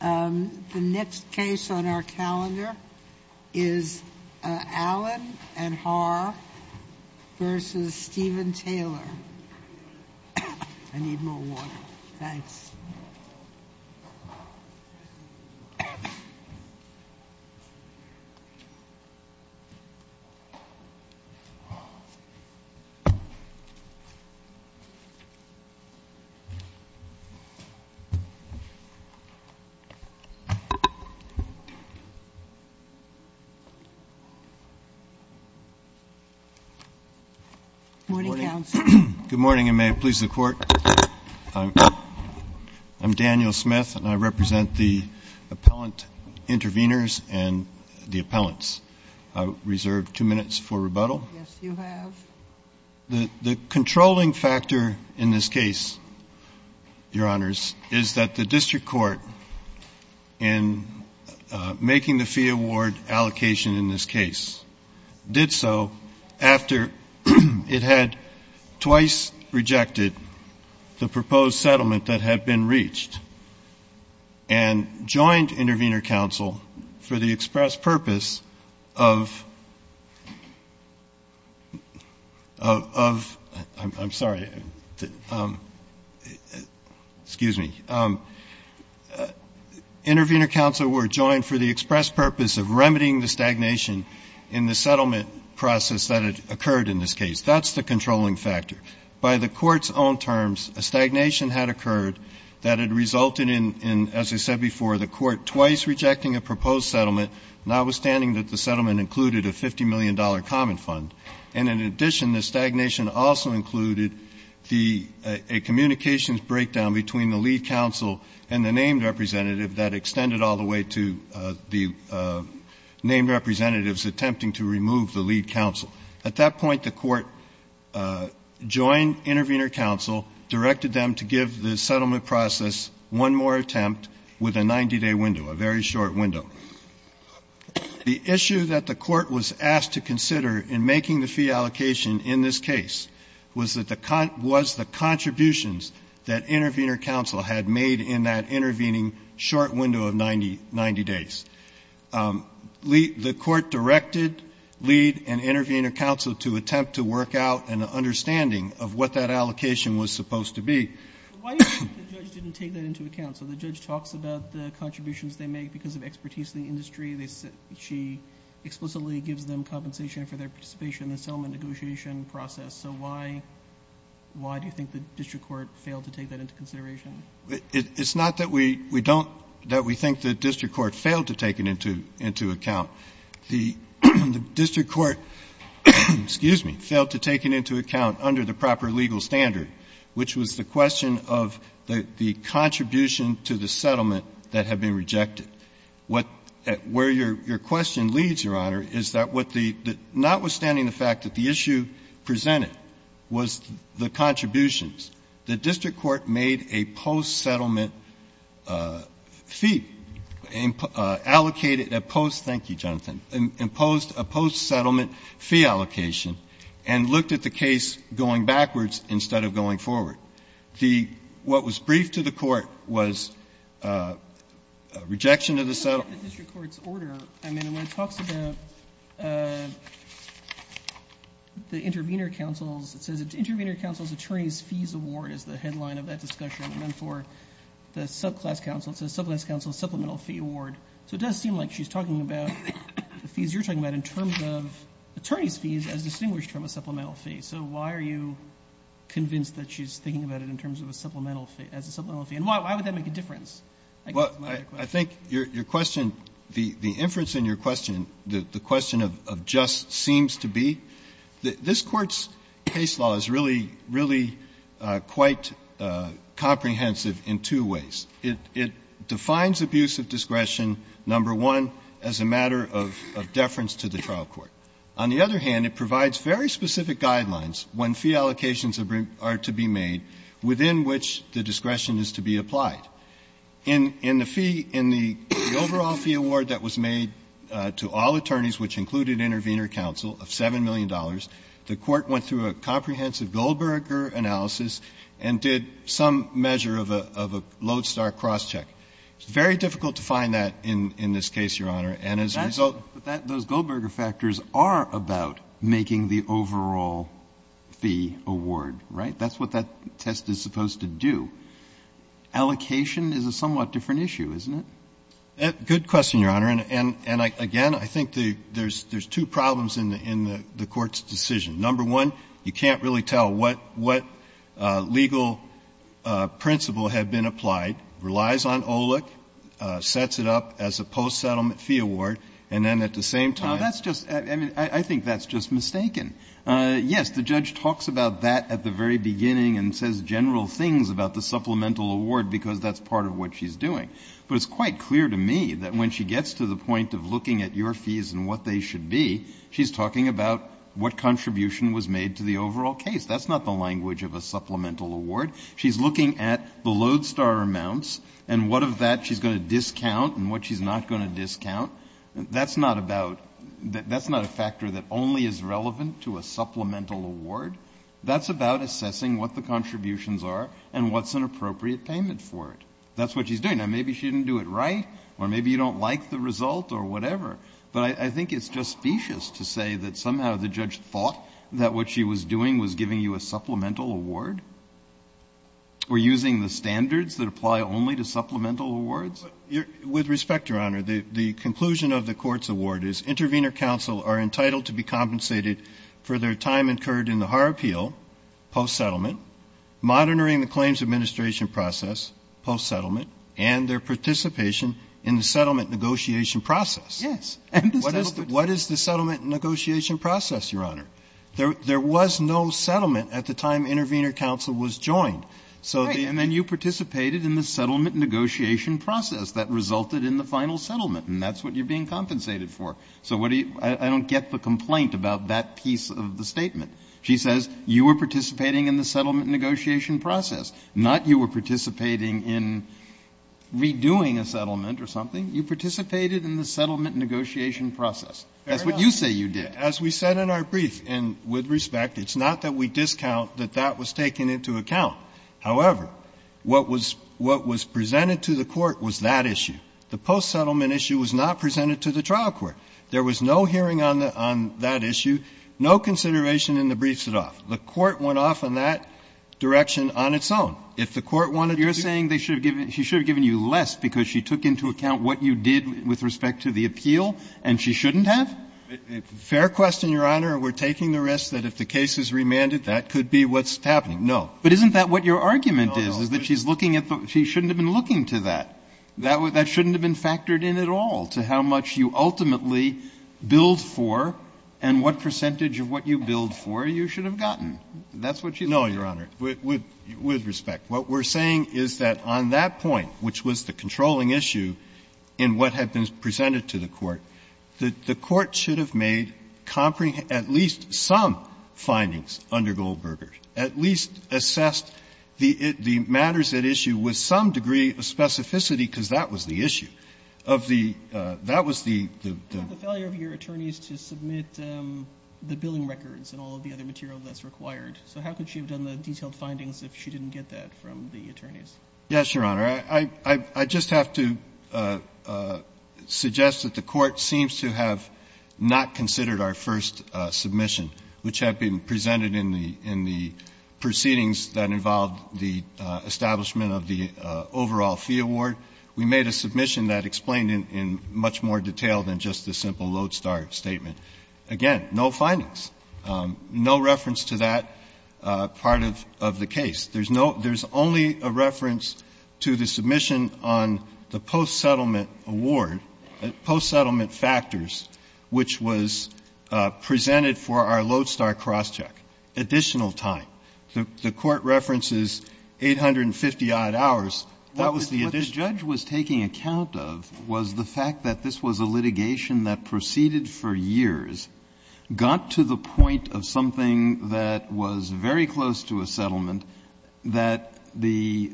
The next case on our calendar is Allen and Haar v. Stephen Taylor. I need more water. Thanks. Good morning, and may it please the Court. I'm Daniel Smith, and I represent the appellant intervenors and the appellants. I reserve two minutes for rebuttal. Yes, you have. The controlling factor in this case, Your Honors, is that the district court, in making the fee award allocation in this case, did so after it had twice rejected the proposed settlement that had been reached and joined Intervenor Council for the express purpose of, I'm sorry, excuse me, Intervenor Council were joined for the express purpose of remedying the stagnation in the settlement process that had occurred in this case. That's the controlling factor. By the Court's own terms, a stagnation had occurred that had resulted in, as I said before, the Court twice rejecting a proposed settlement, notwithstanding that the settlement included a $50 million common fund. And in addition, the stagnation also included a communications breakdown between the lead counsel and the named representative that extended all the way to the named representatives attempting to remove the lead counsel. At that point, the Court joined Intervenor Council, directed them to give the settlement process one more attempt with a 90-day window, a very short window. The issue that the Court was asked to consider in making the fee allocation in this case was the contributions that Intervenor Council had made in that intervening short window of 90 days. The Court directed lead and Intervenor Council to attempt to work out an understanding of what that allocation was supposed to be. Roberts. Why do you think the judge didn't take that into account? So the judge talks about the contributions they make because of expertise in the industry. She explicitly gives them compensation for their participation in the settlement negotiation process. So why do you think the district court failed to take that into consideration? It's not that we don't — that we think the district court failed to take it into account. The district court — excuse me — failed to take it into account under the proper legal standard, which was the question of the contribution to the settlement that had been rejected. What — where your question leads, Your Honor, is that what the — notwithstanding the fact that the issue presented was the contributions, the district court made a post-settlement fee, allocated a post — thank you, Jonathan — imposed a post-settlement fee allocation and looked at the case going backwards instead of going forward. The — what was briefed to the Court was a rejection of the settlement. I mean, when it talks about the intervener counsel's — it says intervener counsel's attorney's fees award is the headline of that discussion. And then for the subclass counsel, it says subclass counsel's supplemental fee award. So it does seem like she's talking about the fees you're talking about in terms of attorney's fees as distinguished from a supplemental fee. So why are you convinced that she's thinking about it in terms of a supplemental fee — as a supplemental fee? And why would that make a difference? Well, I think your question — the inference in your question, the question of just seems to be that this Court's case law is really, really quite comprehensive in two ways. It defines abuse of discretion, number one, as a matter of deference to the trial court. On the other hand, it provides very specific guidelines when fee allocations are to be made within which the discretion is to be applied. In the fee — in the overall fee award that was made to all attorneys, which included intervener counsel, of $7 million, the Court went through a comprehensive Goldberger analysis and did some measure of a — of a lodestar crosscheck. It's very difficult to find that in this case, Your Honor. And as a result — But that — those Goldberger factors are about making the overall fee award, right? That's what that test is supposed to do. Allocation is a somewhat different issue, isn't it? Good question, Your Honor. And again, I think the — there's two problems in the Court's decision. Number one, you can't really tell what legal principle had been applied. It relies on OLEC, sets it up as a post-settlement fee award, and then at the same time — No, that's just — I mean, I think that's just mistaken. Yes, the judge talks about that at the very beginning and says general things about the supplemental award because that's part of what she's doing. But it's quite clear to me that when she gets to the point of looking at your fees and what they should be, she's talking about what contribution was made to the overall case. That's not the language of a supplemental award. She's looking at the lodestar amounts and what of that she's going to discount and what she's not going to discount. That's not about — that's not a factor that only is relevant to a supplemental award. That's about assessing what the contributions are and what's an appropriate payment for it. That's what she's doing. Now, maybe she didn't do it right or maybe you don't like the result or whatever, but I think it's just specious to say that somehow the judge thought that what she was doing was giving you a supplemental award or using the standards that apply only to supplemental awards. With respect, Your Honor, the conclusion of the court's award is Intervenor counsel are entitled to be compensated for their time incurred in the Har Appeal post-settlement, monitoring the claims administration process post-settlement, and their participation in the settlement negotiation process. Yes. What is the settlement negotiation process, Your Honor? There was no settlement at the time Intervenor counsel was joined. And then you participated in the settlement negotiation process that resulted in the final settlement, and that's what you're being compensated for. So what do you — I don't get the complaint about that piece of the statement. She says you were participating in the settlement negotiation process, not you were participating in redoing a settlement or something. You participated in the settlement negotiation process. That's what you say you did. As we said in our brief, and with respect, it's not that we discount that that was taken into account. However, what was presented to the court was that issue. The post-settlement issue was not presented to the trial court. There was no hearing on that issue, no consideration in the briefs at all. The court went off in that direction on its own. If the court wanted to— But you're saying she should have given you less because she took into account what you did with respect to the appeal and she shouldn't have? Fair question, Your Honor. We're taking the risk that if the case is remanded, that could be what's happening. But isn't that what your argument is, is that she's looking at the – she shouldn't have been looking to that? That shouldn't have been factored in at all to how much you ultimately billed for and what percentage of what you billed for you should have gotten. That's what she's saying. No, Your Honor. With respect, what we're saying is that on that point, which was the controlling issue in what had been presented to the court, that the court should have made at least some findings under Goldberger, at least assessed the matters at issue with some degree of specificity, because that was the issue. That was the— You have the failure of your attorneys to submit the billing records and all of the other material that's required. So how could she have done the detailed findings if she didn't get that from the attorneys? Yes, Your Honor. I just have to suggest that the Court seems to have not considered our first submission which had been presented in the proceedings that involved the establishment of the overall fee award. We made a submission that explained in much more detail than just the simple Lodestar statement. Again, no findings. No reference to that part of the case. There's only a reference to the submission on the post-settlement award, post-settlement factors, which was presented for our Lodestar cross-check. Additional time. The Court references 850-odd hours. That was the addition. What the judge was taking account of was the fact that this was a litigation that proceeded for years, got to the point of something that was very close to a settlement that the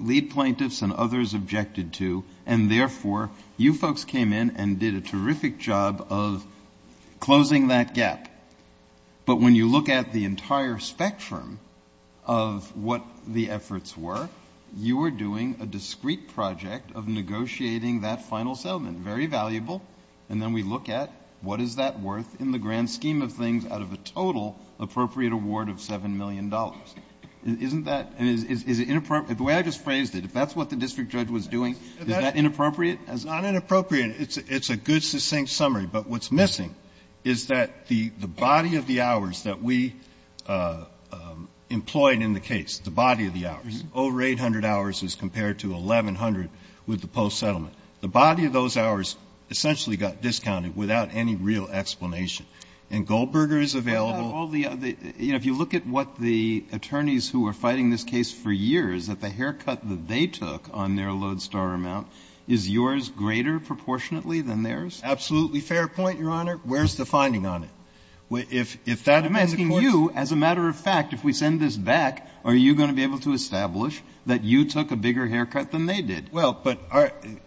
lead plaintiffs and others objected to, and therefore you folks came in and did a terrific job of closing that gap. But when you look at the entire spectrum of what the efforts were, you were doing a discrete project of negotiating that final settlement, very valuable, and then we look at what is that worth in the grand scheme of things out of a total appropriate award of $7 million. Isn't that and is it inappropriate? The way I just phrased it, if that's what the district judge was doing, is that inappropriate? It's not inappropriate. It's a good, succinct summary. But what's missing is that the body of the hours that we employed in the case, the body of the hours, over 800 hours as compared to 1,100 with the post-settlement, the body of those hours essentially got discounted without any real explanation. And Goldberger is available. And all the other, you know, if you look at what the attorneys who were fighting this case for years, that the haircut that they took on their Lodestar amount is yours greater proportionately than theirs? Absolutely fair point, Your Honor. Where's the finding on it? If that had been the court's. I'm asking you, as a matter of fact, if we send this back, are you going to be able to establish that you took a bigger haircut than they did? Well, but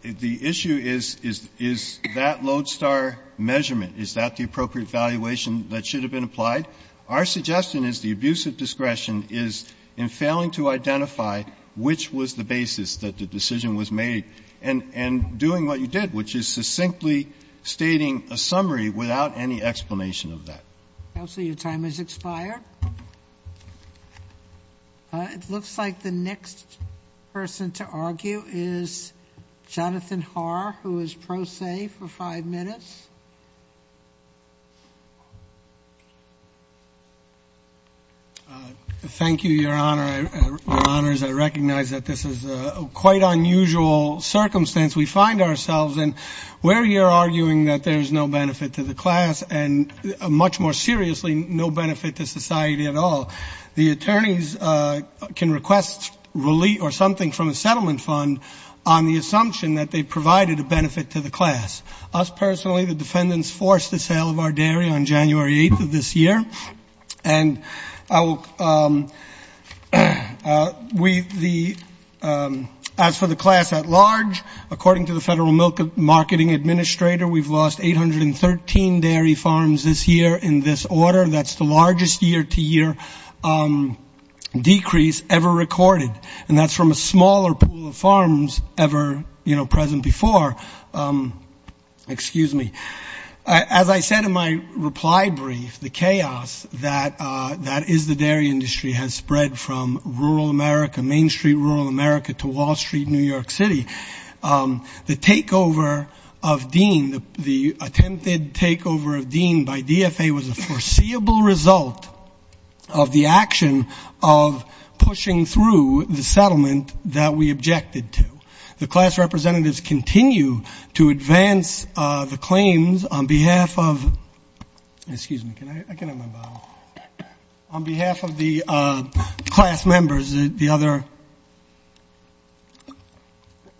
the issue is, is that Lodestar measurement, is that the appropriate valuation that should have been applied? Our suggestion is the abuse of discretion is in failing to identify which was the doing what you did, which is succinctly stating a summary without any explanation of that. Counsel, your time has expired. It looks like the next person to argue is Jonathan Haar, who is pro se for five minutes. Thank you, Your Honor. Your Honor, I recognize that this is a quite unusual circumstance we find ourselves in. We're here arguing that there's no benefit to the class, and much more seriously, no benefit to society at all. The attorneys can request relief or something from a settlement fund on the assumption that they provided a benefit to the class. Us, personally, the defendants forced the sale of our dairy on January 8th of this year. As for the class at large, according to the Federal Milk Marketing Administrator, we've lost 813 dairy farms this year in this order. That's the largest year-to-year decrease ever recorded. And that's from a smaller pool of farms ever, you know, present before. Excuse me. As I said in my reply brief, the chaos that is the dairy industry has spread from rural America, Main Street, rural America, to Wall Street, New York City. The takeover of Dean, the attempted takeover of Dean by DFA was a foreseeable result of the action of pushing through the settlement that we objected to. The class representatives continue to advance the claims on behalf of the class members,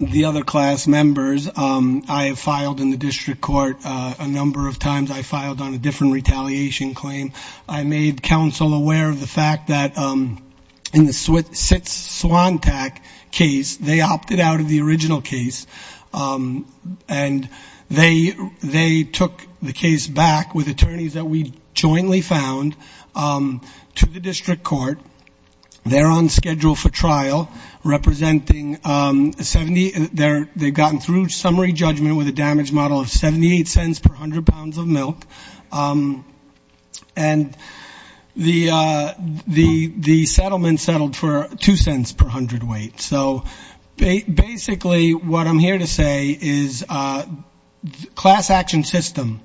the other class members. I have filed in the district court a number of times. I filed on a different retaliation claim. I made counsel aware of the fact that in the Swantac case, they opted out of the original case, and they took the case back with attorneys that we jointly found to the district court. They're on schedule for trial representing 70. They've gotten through summary judgment with a damage model of $0.78 per hundred pounds of milk. And the settlement settled for $0.02 per hundred weight. So basically what I'm here to say is class action system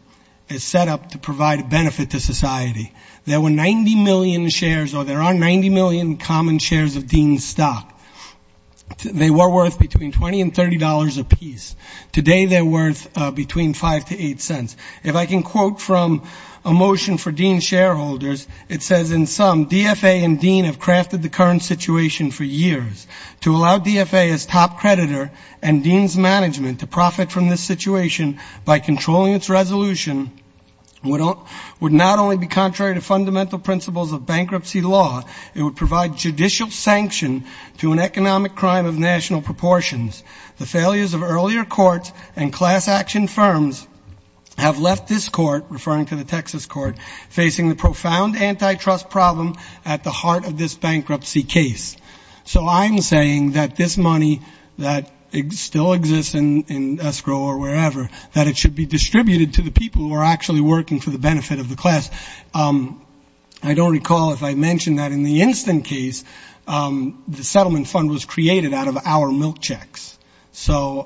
is set up to provide a benefit to society. There were 90 million shares, or there are 90 million common shares of Dean's stock. They were worth between $20 and $30 apiece. Today they're worth between $0.05 to $0.08. If I can quote from a motion for Dean's shareholders, it says, in sum, DFA and Dean have crafted the current situation for years. To allow DFA as top creditor and Dean's management to profit from this situation by controlling its resolution would not only be contrary to fundamental principles of bankruptcy law, it would provide judicial sanction to an economic crime of national proportions. The failures of earlier courts and class action firms have left this court, referring to the Texas court, facing the profound antitrust problem at the heart of this bankruptcy case. So I'm saying that this money that still exists in escrow or wherever, that it should be distributed to the people who are actually working for the benefit of the class. I don't recall if I mentioned that in the instant case, the settlement fund was created out of our milk checks. So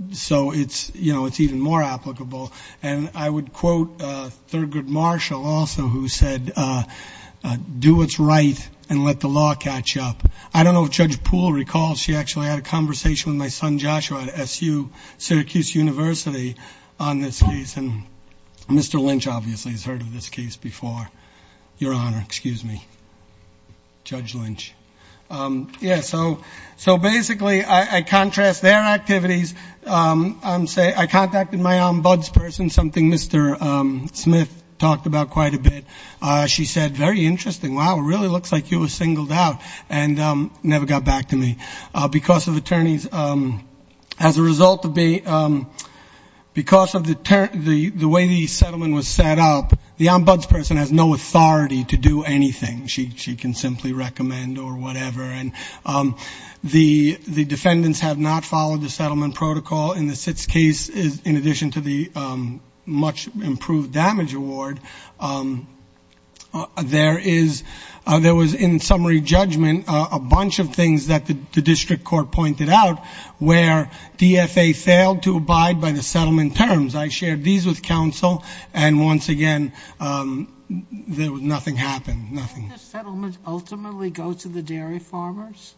it's, you know, it's even more applicable. And I would quote Thurgood Marshall also, who said, do what's right and let the law catch up. I don't know if Judge Poole recalls. She actually had a conversation with my son Joshua at SU, Syracuse University, on this case. Mr. Lynch obviously has heard of this case before. Your Honor, excuse me. Judge Lynch. Yeah, so basically I contrast their activities. I contacted my ombudsperson, something Mr. Smith talked about quite a bit. She said, very interesting. Wow, it really looks like you were singled out. And never got back to me. Because of attorneys, as a result of the way the settlement was set up, the ombudsperson has no authority to do anything. She can simply recommend or whatever. And the defendants have not followed the settlement protocol in the SITS case, in addition to the much improved damage award. There was, in summary judgment, a bunch of things that the district court pointed out, where DFA failed to abide by the settlement terms. I shared these with counsel, and once again, nothing happened. Did the settlement ultimately go to the dairy farmers?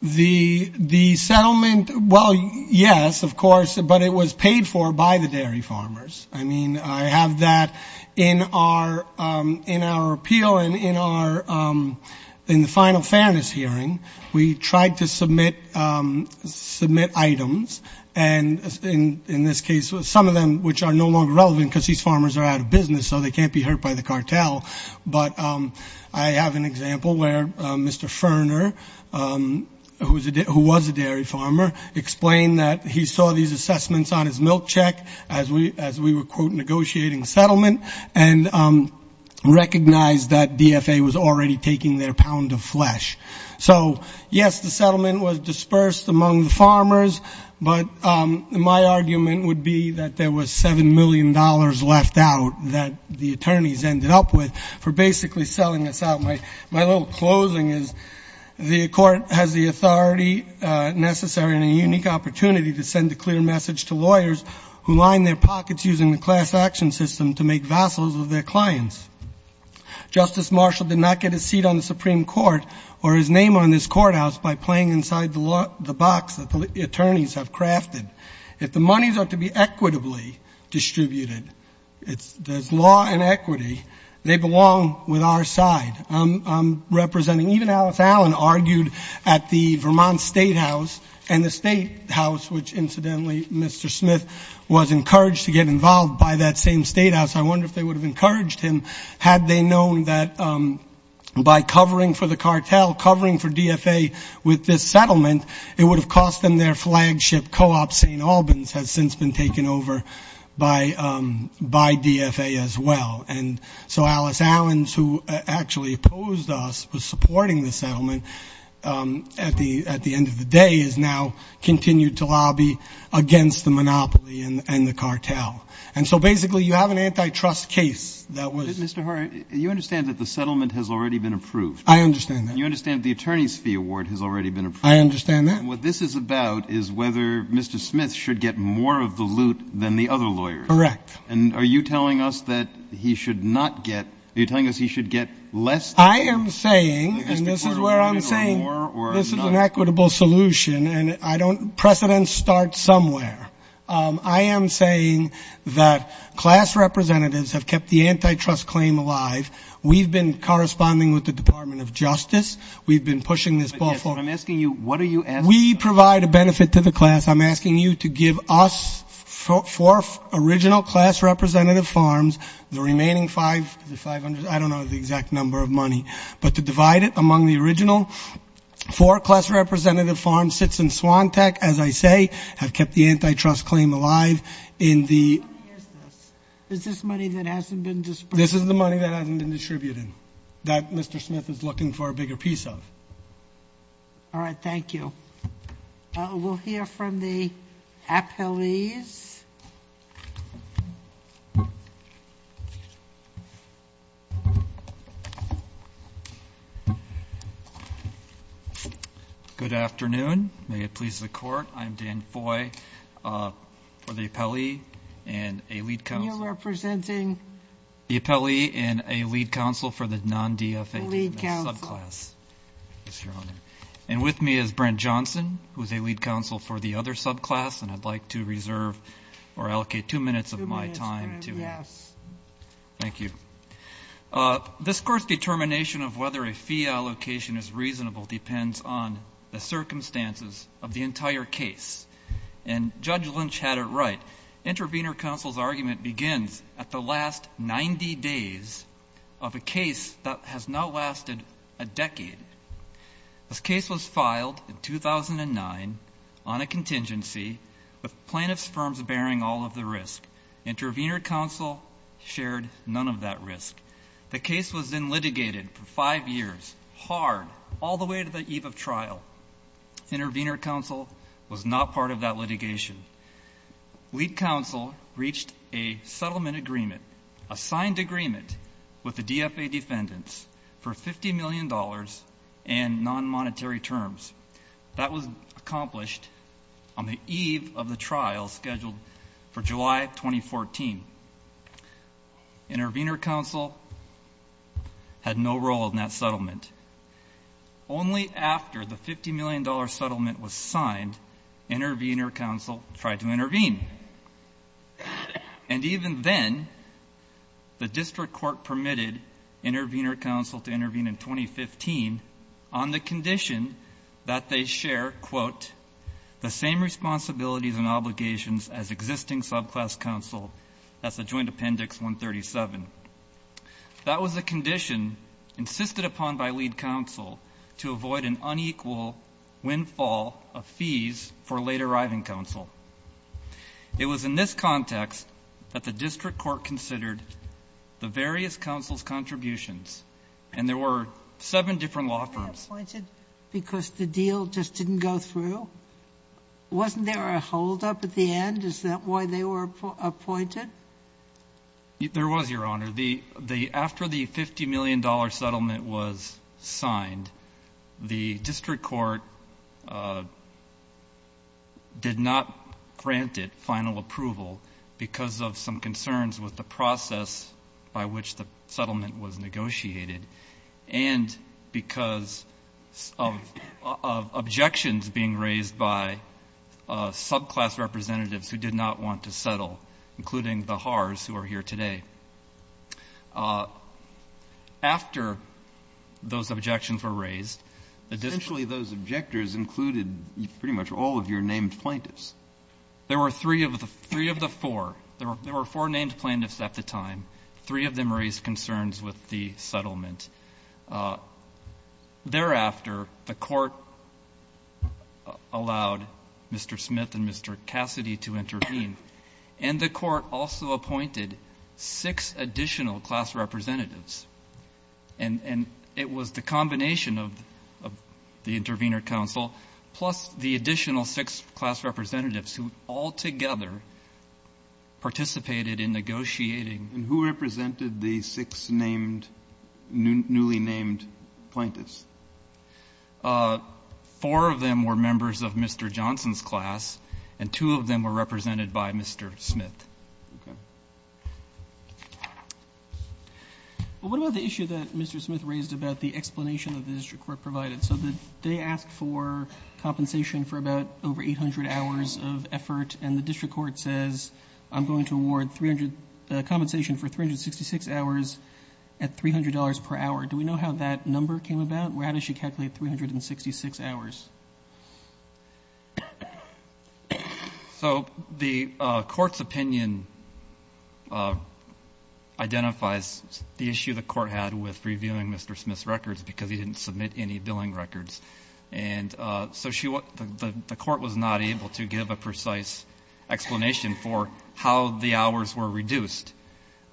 The settlement, well, yes, of course. But it was paid for by the dairy farmers. I mean, I have that in our appeal and in the final fairness hearing. We tried to submit items, and in this case, some of them which are no longer relevant, because these farmers are out of business, so they can't be hurt by the cartel. But I have an example where Mr. Ferner, who was a dairy farmer, explained that he saw these assessments on his milk check as we were, quote, negotiating settlement and recognized that DFA was already taking their pound of flesh. So, yes, the settlement was dispersed among the farmers, but my argument would be that there was $7 million left out that the attorneys ended up with for basically selling us out. My little closing is the court has the authority necessary and a unique opportunity to send a clear message to lawyers who line their pockets using the class action system to make vassals of their clients. Justice Marshall did not get a seat on the Supreme Court or his name on this courthouse by playing inside the box that the attorneys have crafted. If the monies are to be equitably distributed, there's law and equity, they belong with our side. Even Alice Allen argued at the Vermont Statehouse and the Statehouse, which incidentally Mr. Smith was encouraged to get involved by that same Statehouse. I wonder if they would have encouraged him had they known that by covering for the cartel, covering for DFA with this settlement, it would have cost them their flagship co-op. St. Albans has since been taken over by DFA as well. And so Alice Allen, who actually opposed us with supporting the settlement, at the end of the day has now continued to lobby against the monopoly and the cartel. And so basically you have an antitrust case that was ---- Mr. Horwitz, you understand that the settlement has already been approved. I understand that. And you understand the attorney's fee award has already been approved. I understand that. And what this is about is whether Mr. Smith should get more of the loot than the other lawyers. Correct. And are you telling us that he should not get ---- are you telling us he should get less? I am saying, and this is where I'm saying, this is an equitable solution. And I don't ---- precedents start somewhere. I am saying that class representatives have kept the antitrust claim alive. We've been corresponding with the Department of Justice. We've been pushing this ball forward. Yes, but I'm asking you, what are you asking for? We provide a benefit to the class. I'm asking you to give us four original class representative farms, the remaining 500, I don't know the exact number of money, but to divide it among the original. Four class representative farms sits in Swantec, as I say, have kept the antitrust claim alive in the ---- How much money is this? Is this money that hasn't been distributed? This is the money that hasn't been distributed, that Mr. Smith is looking for a bigger piece of. All right, thank you. We'll hear from the appellees. Good afternoon. May it please the Court, I'm Dan Foy for the appellee and a lead counsel. And you're representing? The appellee and a lead counsel for the non-DFAD subclass. The lead counsel. Yes, Your Honor. And with me is Brent Johnson, who is a lead counsel for the other subclass, and I'd like to reserve or allocate two minutes of my time to him. Two minutes, yes. Thank you. This Court's determination of whether a fee allocation is reasonable depends on the circumstances of the entire case, and Judge Lynch had it right. Intervenor counsel's argument begins at the last 90 days of a case that has now lasted a decade. This case was filed in 2009 on a contingency with plaintiffs' firms bearing all of the risk. Intervenor counsel shared none of that risk. The case was then litigated for five years, hard, all the way to the eve of trial. Intervenor counsel was not part of that litigation. Lead counsel reached a settlement agreement, a signed agreement, with the DFA defendants for $50 million in non-monetary terms. That was accomplished on the eve of the trial scheduled for July 2014. Intervenor counsel had no role in that settlement. Only after the $50 million settlement was signed, intervenor counsel tried to intervene. And even then, the district court permitted intervenor counsel to intervene in 2015 on the condition that they share, quote, the same responsibilities and obligations as existing subclass counsel. That's the Joint Appendix 137. That was a condition insisted upon by lead counsel to avoid an unequal windfall of fees for late-arriving counsel. It was in this context that the district court considered the various counsels' contributions, and there were seven different law firms. Was that appointed because the deal just didn't go through? Wasn't there a holdup at the end? Is that why they were appointed? There was, Your Honor. After the $50 million settlement was signed, the district court did not grant it final approval because of some concerns with the process by which the settlement was negotiated and because of objections being raised by subclass representatives who did not want to settle, including the Haars, who are here today. After those objections were raised, the district court... Essentially, those objectors included pretty much all of your named plaintiffs. There were three of the four. There were four named plaintiffs at the time. Three of them raised concerns with the settlement. Thereafter, the court allowed Mr. Smith and Mr. Cassidy to intervene, and the court also appointed six additional class representatives. And it was the combination of the intervener counsel plus the additional six class representatives who all together participated in negotiating. And who represented the six newly named plaintiffs? Four of them were members of Mr. Johnson's class, and two of them were represented by Mr. Smith. Okay. What about the issue that Mr. Smith raised about the explanation that the district court provided? So they asked for compensation for about over 800 hours of effort, and the district court says, I'm going to award compensation for 366 hours at $300 per hour. Do we know how that number came about? How does she calculate 366 hours? So the court's opinion identifies the issue the court had with reviewing Mr. Smith's records because he didn't submit any billing records. And so the court was not able to give a precise explanation for how the hours were reduced.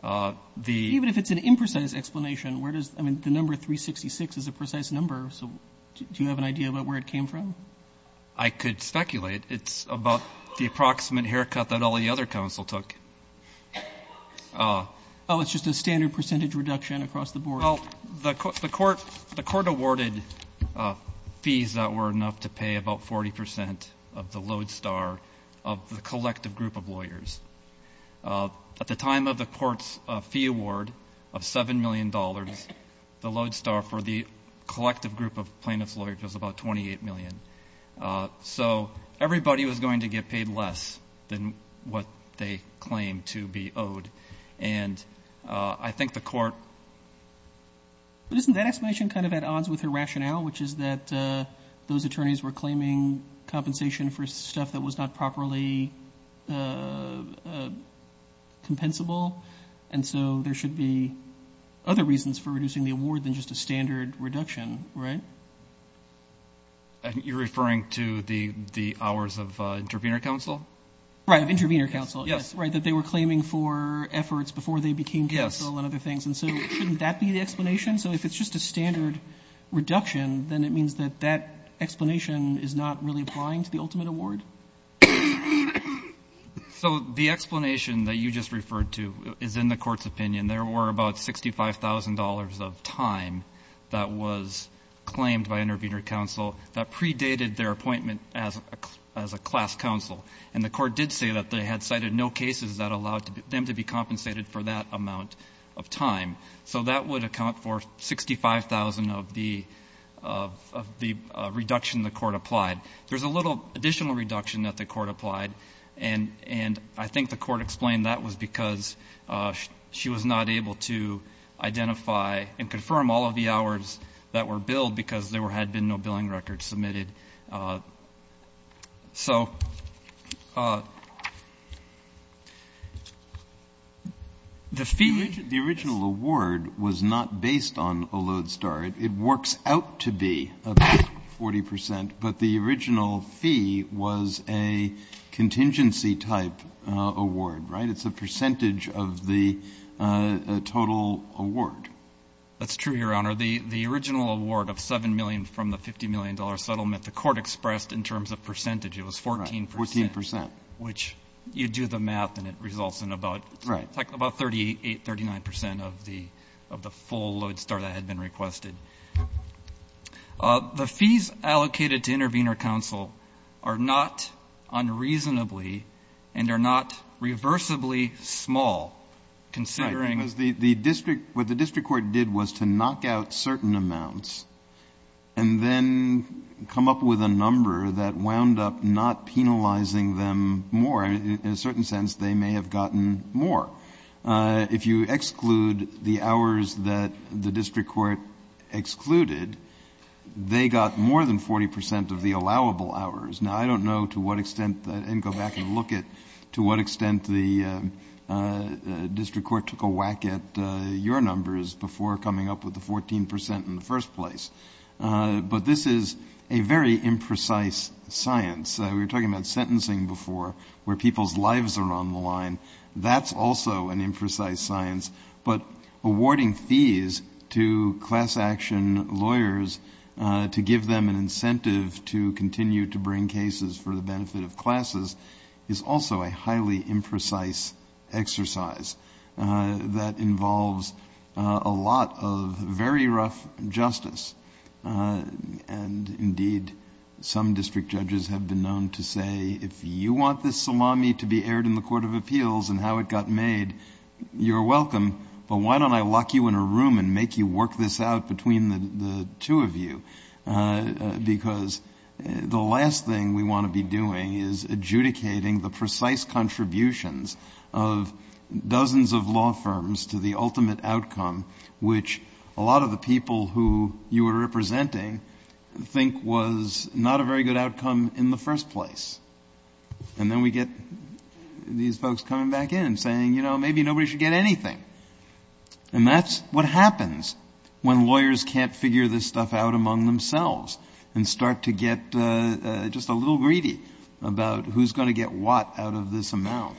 Even if it's an imprecise explanation, where does the number 366 is a precise number, so do you have an idea about where it came from? I could speculate. It's about the approximate haircut that all the other counsel took. Oh, it's just a standard percentage reduction across the board. Well, the court awarded fees that were enough to pay about 40% of the load star of the collective group of lawyers. At the time of the court's fee award of $7 million, the load star for the collective group of plaintiff's lawyers was about $28 million. So everybody was going to get paid less than what they claimed to be owed, and I think the court— But isn't that explanation kind of at odds with her rationale, which is that those attorneys were claiming compensation for stuff that was not properly compensable, and so there should be other reasons for reducing the award than just a standard reduction, right? You're referring to the hours of intervener counsel? Right, of intervener counsel. Yes. Right, that they were claiming for efforts before they became counsel and other things. Yes. And so shouldn't that be the explanation? So if it's just a standard reduction, then it means that that explanation is not really applying to the ultimate award? So the explanation that you just referred to is in the court's opinion. There were about $65,000 of time that was claimed by intervener counsel that predated their appointment as a class counsel, and the court did say that they had cited no cases that allowed them to be compensated for that amount of time. So that would account for $65,000 of the reduction the court applied. There's a little additional reduction that the court applied, and I think the court explained that was because she was not able to identify and confirm all of the hours that were billed because there had been no billing records submitted. So the fee was not based on a load star. It works out to be about 40 percent, but the original fee was a contingency-type award, right? It's a percentage of the total award. That's true, Your Honor. The original award of $7 million from the $50 million settlement, the court expressed in terms of percentage. It was 14 percent. Right, 14 percent. Which you do the math and it results in about 38, 39 percent of the full load star that had been requested. The fees allocated to intervener counsel are not unreasonably and are not reversibly small, considering the district. What the district court did was to knock out certain amounts and then come up with a number that wound up not penalizing them more. In a certain sense, they may have gotten more. If you exclude the hours that the district court excluded, they got more than 40 percent of the allowable hours. Now, I don't know to what extent, and go back and look at to what extent the district court took a whack at your numbers before coming up with the 14 percent in the first place. But this is a very imprecise science. We were talking about sentencing before, where people's lives are on the line. That's also an imprecise science. But awarding fees to class action lawyers to give them an incentive to continue to bring involves a lot of very rough justice. Indeed, some district judges have been known to say, if you want this salami to be aired in the Court of Appeals and how it got made, you're welcome, but why don't I lock you in a room and make you work this out between the two of you? Because the last thing we want to be doing is adjudicating the precise contributions of dozens of law firms to the ultimate outcome, which a lot of the people who you were representing think was not a very good outcome in the first place. And then we get these folks coming back in saying, you know, maybe nobody should get anything. And that's what happens when lawyers can't figure this stuff out among themselves and start to get just a little greedy about who's going to get what out of this amount.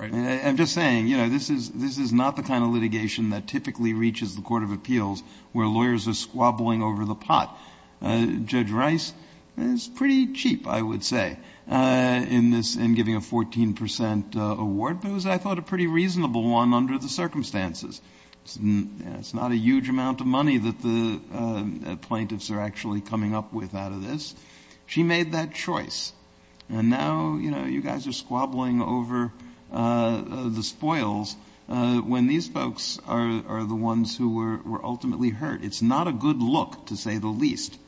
I'm just saying, you know, this is not the kind of litigation that typically reaches the Court of Appeals where lawyers are squabbling over the pot. Judge Rice is pretty cheap, I would say, in giving a 14 percent award, but it was, I thought, a pretty reasonable one under the circumstances. It's not a huge amount of money that the plaintiffs are actually coming up with out of this. She made that choice. And now, you know, you guys are squabbling over the spoils when these folks are the ones who were ultimately hurt. It's not a good look, to say the least,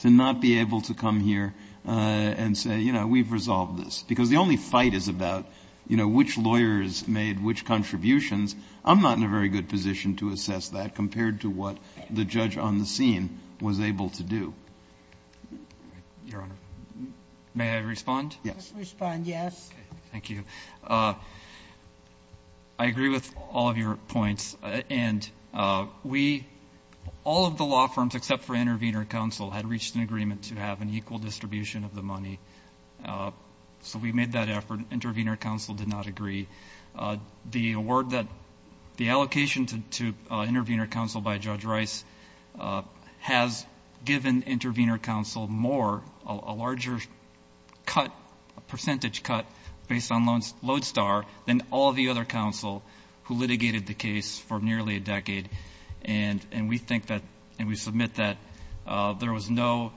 to not be able to come here and say, you know, we've resolved this. Because the only fight is about, you know, which lawyers made which contributions. I'm not in a very good position to assess that compared to what the judge on the scene was able to do. Your Honor, may I respond? Yes. Respond, yes. Thank you. I agree with all of your points. And we, all of the law firms except for Intervenor Counsel, had reached an agreement to have an equal distribution of the money. So we made that effort. Intervenor Counsel did not agree. The award that, the allocation to Intervenor Counsel by Judge Rice has given Intervenor Counsel more, a larger cut, a percentage cut based on Lodestar than all the other counsel who litigated the case for nearly a decade. And we think that, and we submit that there was no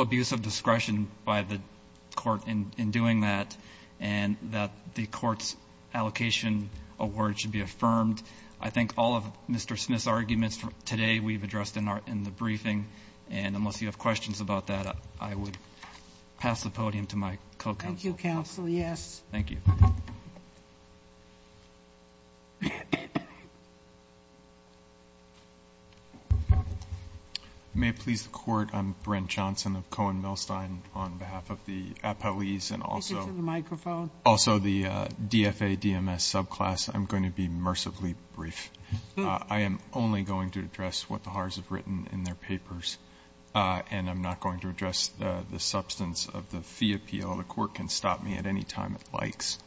abuse of discretion by the court in doing that. And that the court's allocation award should be affirmed. I think all of Mr. Smith's arguments today we've addressed in the briefing. And unless you have questions about that, I would pass the podium to my co-counsel. Thank you, counsel. Yes. Thank you. May it please the court, I'm Brent Johnson of Cohen Milstein on behalf of the appellees and also the DFA DMS subclass. I'm going to be mercifully brief. I am only going to address what the Haars have written in their papers. And I'm not going to address the substance of the fee appeal. The court can stop me at any time it likes.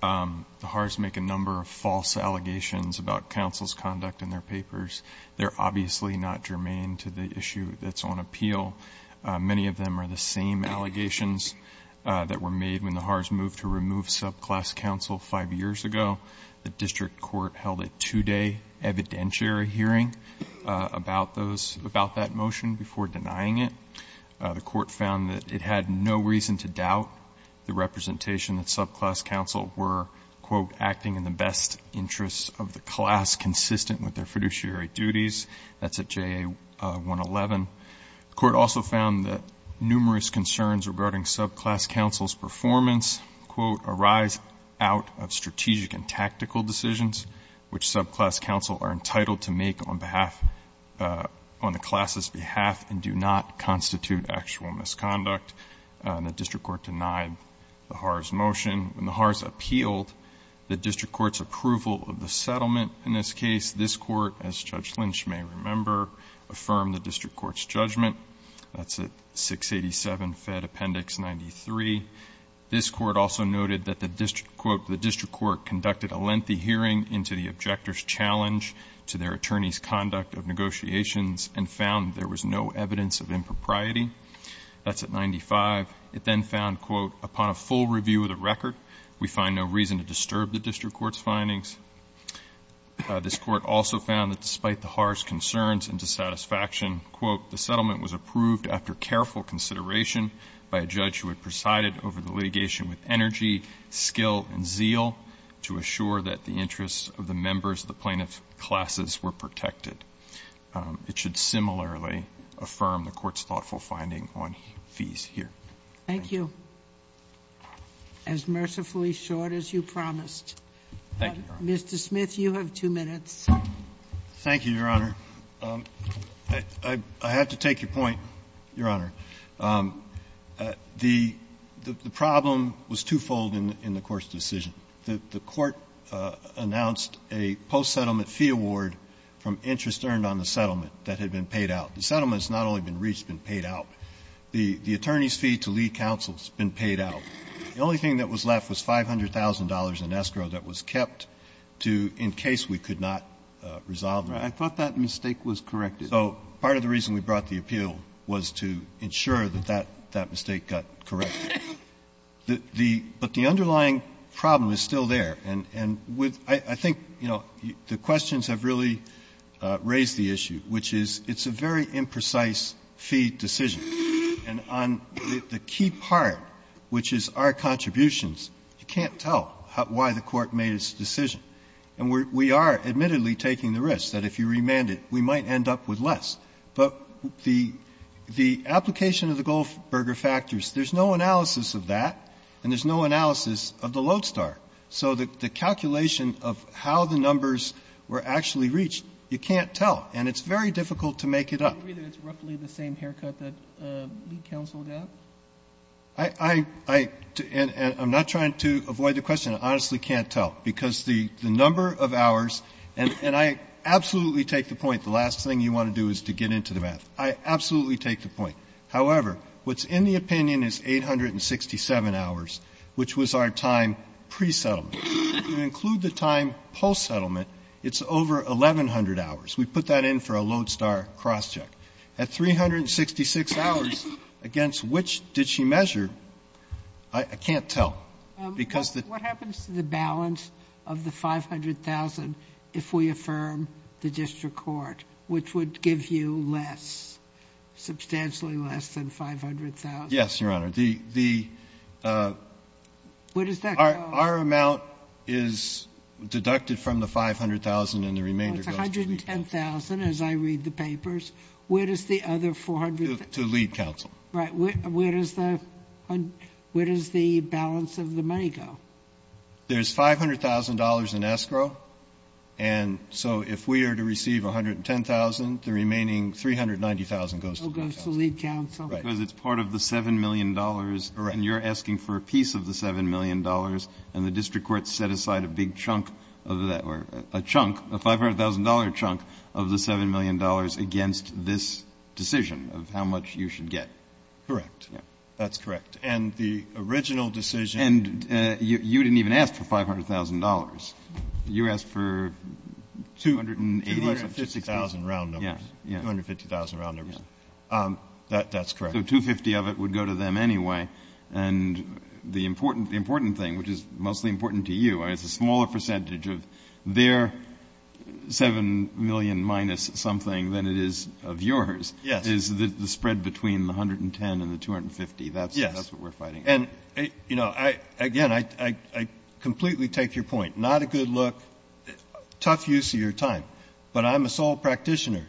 The Haars make a number of false allegations about counsel's conduct in their papers. They're obviously not germane to the issue that's on appeal. Many of them are the same allegations that were made when the Haars moved to remove subclass counsel five years ago. The district court held a two-day evidentiary hearing about that motion before denying it. The court found that it had no reason to doubt the representation that subclass counsel were, quote, acting in the best interests of the class consistent with their fiduciary duties. That's at JA-111. The court also found that numerous concerns regarding subclass counsel's performance, quote, arise out of strategic and tactical decisions which subclass counsel are entitled to make on behalf, on the class's behalf and do not constitute actual misconduct. The district court denied the Haars motion. When the Haars appealed the district court's approval of the settlement in this case, this court, as Judge Lynch may remember, affirmed the district court's judgment. That's at 687 Fed Appendix 93. This court also noted that the district, quote, the district court conducted a lengthy hearing into the objector's challenge to their attorney's conduct of negotiations and found there was no evidence of impropriety. That's at 95. It then found, quote, upon a full review of the record, we find no reason to disturb the district court's findings. This court also found that despite the Haars concerns and dissatisfaction, quote, the settlement was approved after careful consideration by a judge who had presided over the litigation with energy, skill, and zeal to assure that the interests of the members of the plaintiff's classes were protected. It should similarly affirm the court's thoughtful finding on fees here. Thank you. Mr. Smith, you have two minutes. Thank you, Your Honor. I have to take your point, Your Honor. The problem was twofold in the court's decision. The court announced a post-settlement fee award from interest earned on the settlement that had been paid out. The settlement's not only been reached, been paid out. The attorney's fee to lead counsel's been paid out. The only thing that was left was $500,000 in escrow that was kept to, in case we could not resolve the matter. I thought that mistake was corrected. So part of the reason we brought the appeal was to ensure that that mistake got corrected. But the underlying problem is still there. And I think, you know, the questions have really raised the issue, which is it's a very imprecise fee decision. And on the key part, which is our contributions, you can't tell why the court made its decision. And we are admittedly taking the risk that if you remand it, we might end up with less. But the application of the Goldberger factors, there's no analysis of that and there's no analysis of the Lodestar. So the calculation of how the numbers were actually reached, you can't tell. And it's very difficult to make it up. Do you agree that it's roughly the same haircut that lead counsel got? I'm not trying to avoid the question. I honestly can't tell. Because the number of hours, and I absolutely take the point, the last thing you want to do is to get into the math. I absolutely take the point. However, what's in the opinion is 867 hours, which was our time pre-settlement. If you include the time post-settlement, it's over 1,100 hours. We put that in for a Lodestar cross-check. At 366 hours, against which did she measure? I can't tell. Because the ---- What happens to the balance of the 500,000 if we affirm the district court, which would give you less, substantially less than 500,000? Yes, Your Honor. The ---- Where does that go? Our amount is deducted from the 500,000 and the remainder goes to the district court. The 500,000, as I read the papers, where does the other 400 ---- To lead counsel. Right. Where does the balance of the money go? There's $500,000 in escrow, and so if we are to receive 110,000, the remaining 390,000 goes to lead counsel. Because it's part of the $7 million, and you're asking for a piece of the $7 million, and the district court set aside a big chunk of that, or a chunk, a $500,000 chunk of the $7 million against this decision of how much you should get. Correct. That's correct. And the original decision ---- And you didn't even ask for $500,000. You asked for 280 or ---- 250,000 round numbers. 250,000 round numbers. That's correct. So 250 of it would go to them anyway. And the important thing, which is mostly important to you, is a smaller percentage of their $7 million minus something than it is of yours is the spread between the 110 and the 250. Yes. That's what we're fighting for. And, you know, again, I completely take your point. Not a good look, tough use of your time. But I'm a sole practitioner.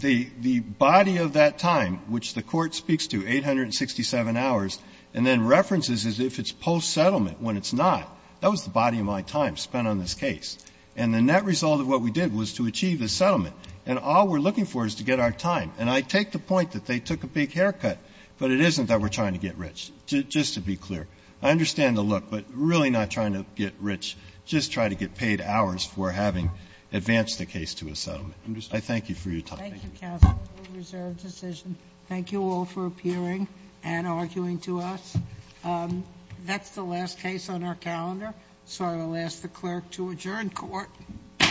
The body of that time, which the Court speaks to, 867 hours, and then references as if it's post-settlement when it's not, that was the body of my time spent on this case. And the net result of what we did was to achieve a settlement. And all we're looking for is to get our time. And I take the point that they took a big haircut, but it isn't that we're trying to get rich, just to be clear. I understand the look, but really not trying to get rich. Just try to get paid hours for having advanced the case to a settlement. I understand. I thank you for your time. Thank you, Counsel. Reserved decision. Thank you all for appearing and arguing to us. That's the last case on our calendar, so I will ask the Clerk to adjourn court. Court is adjourned. �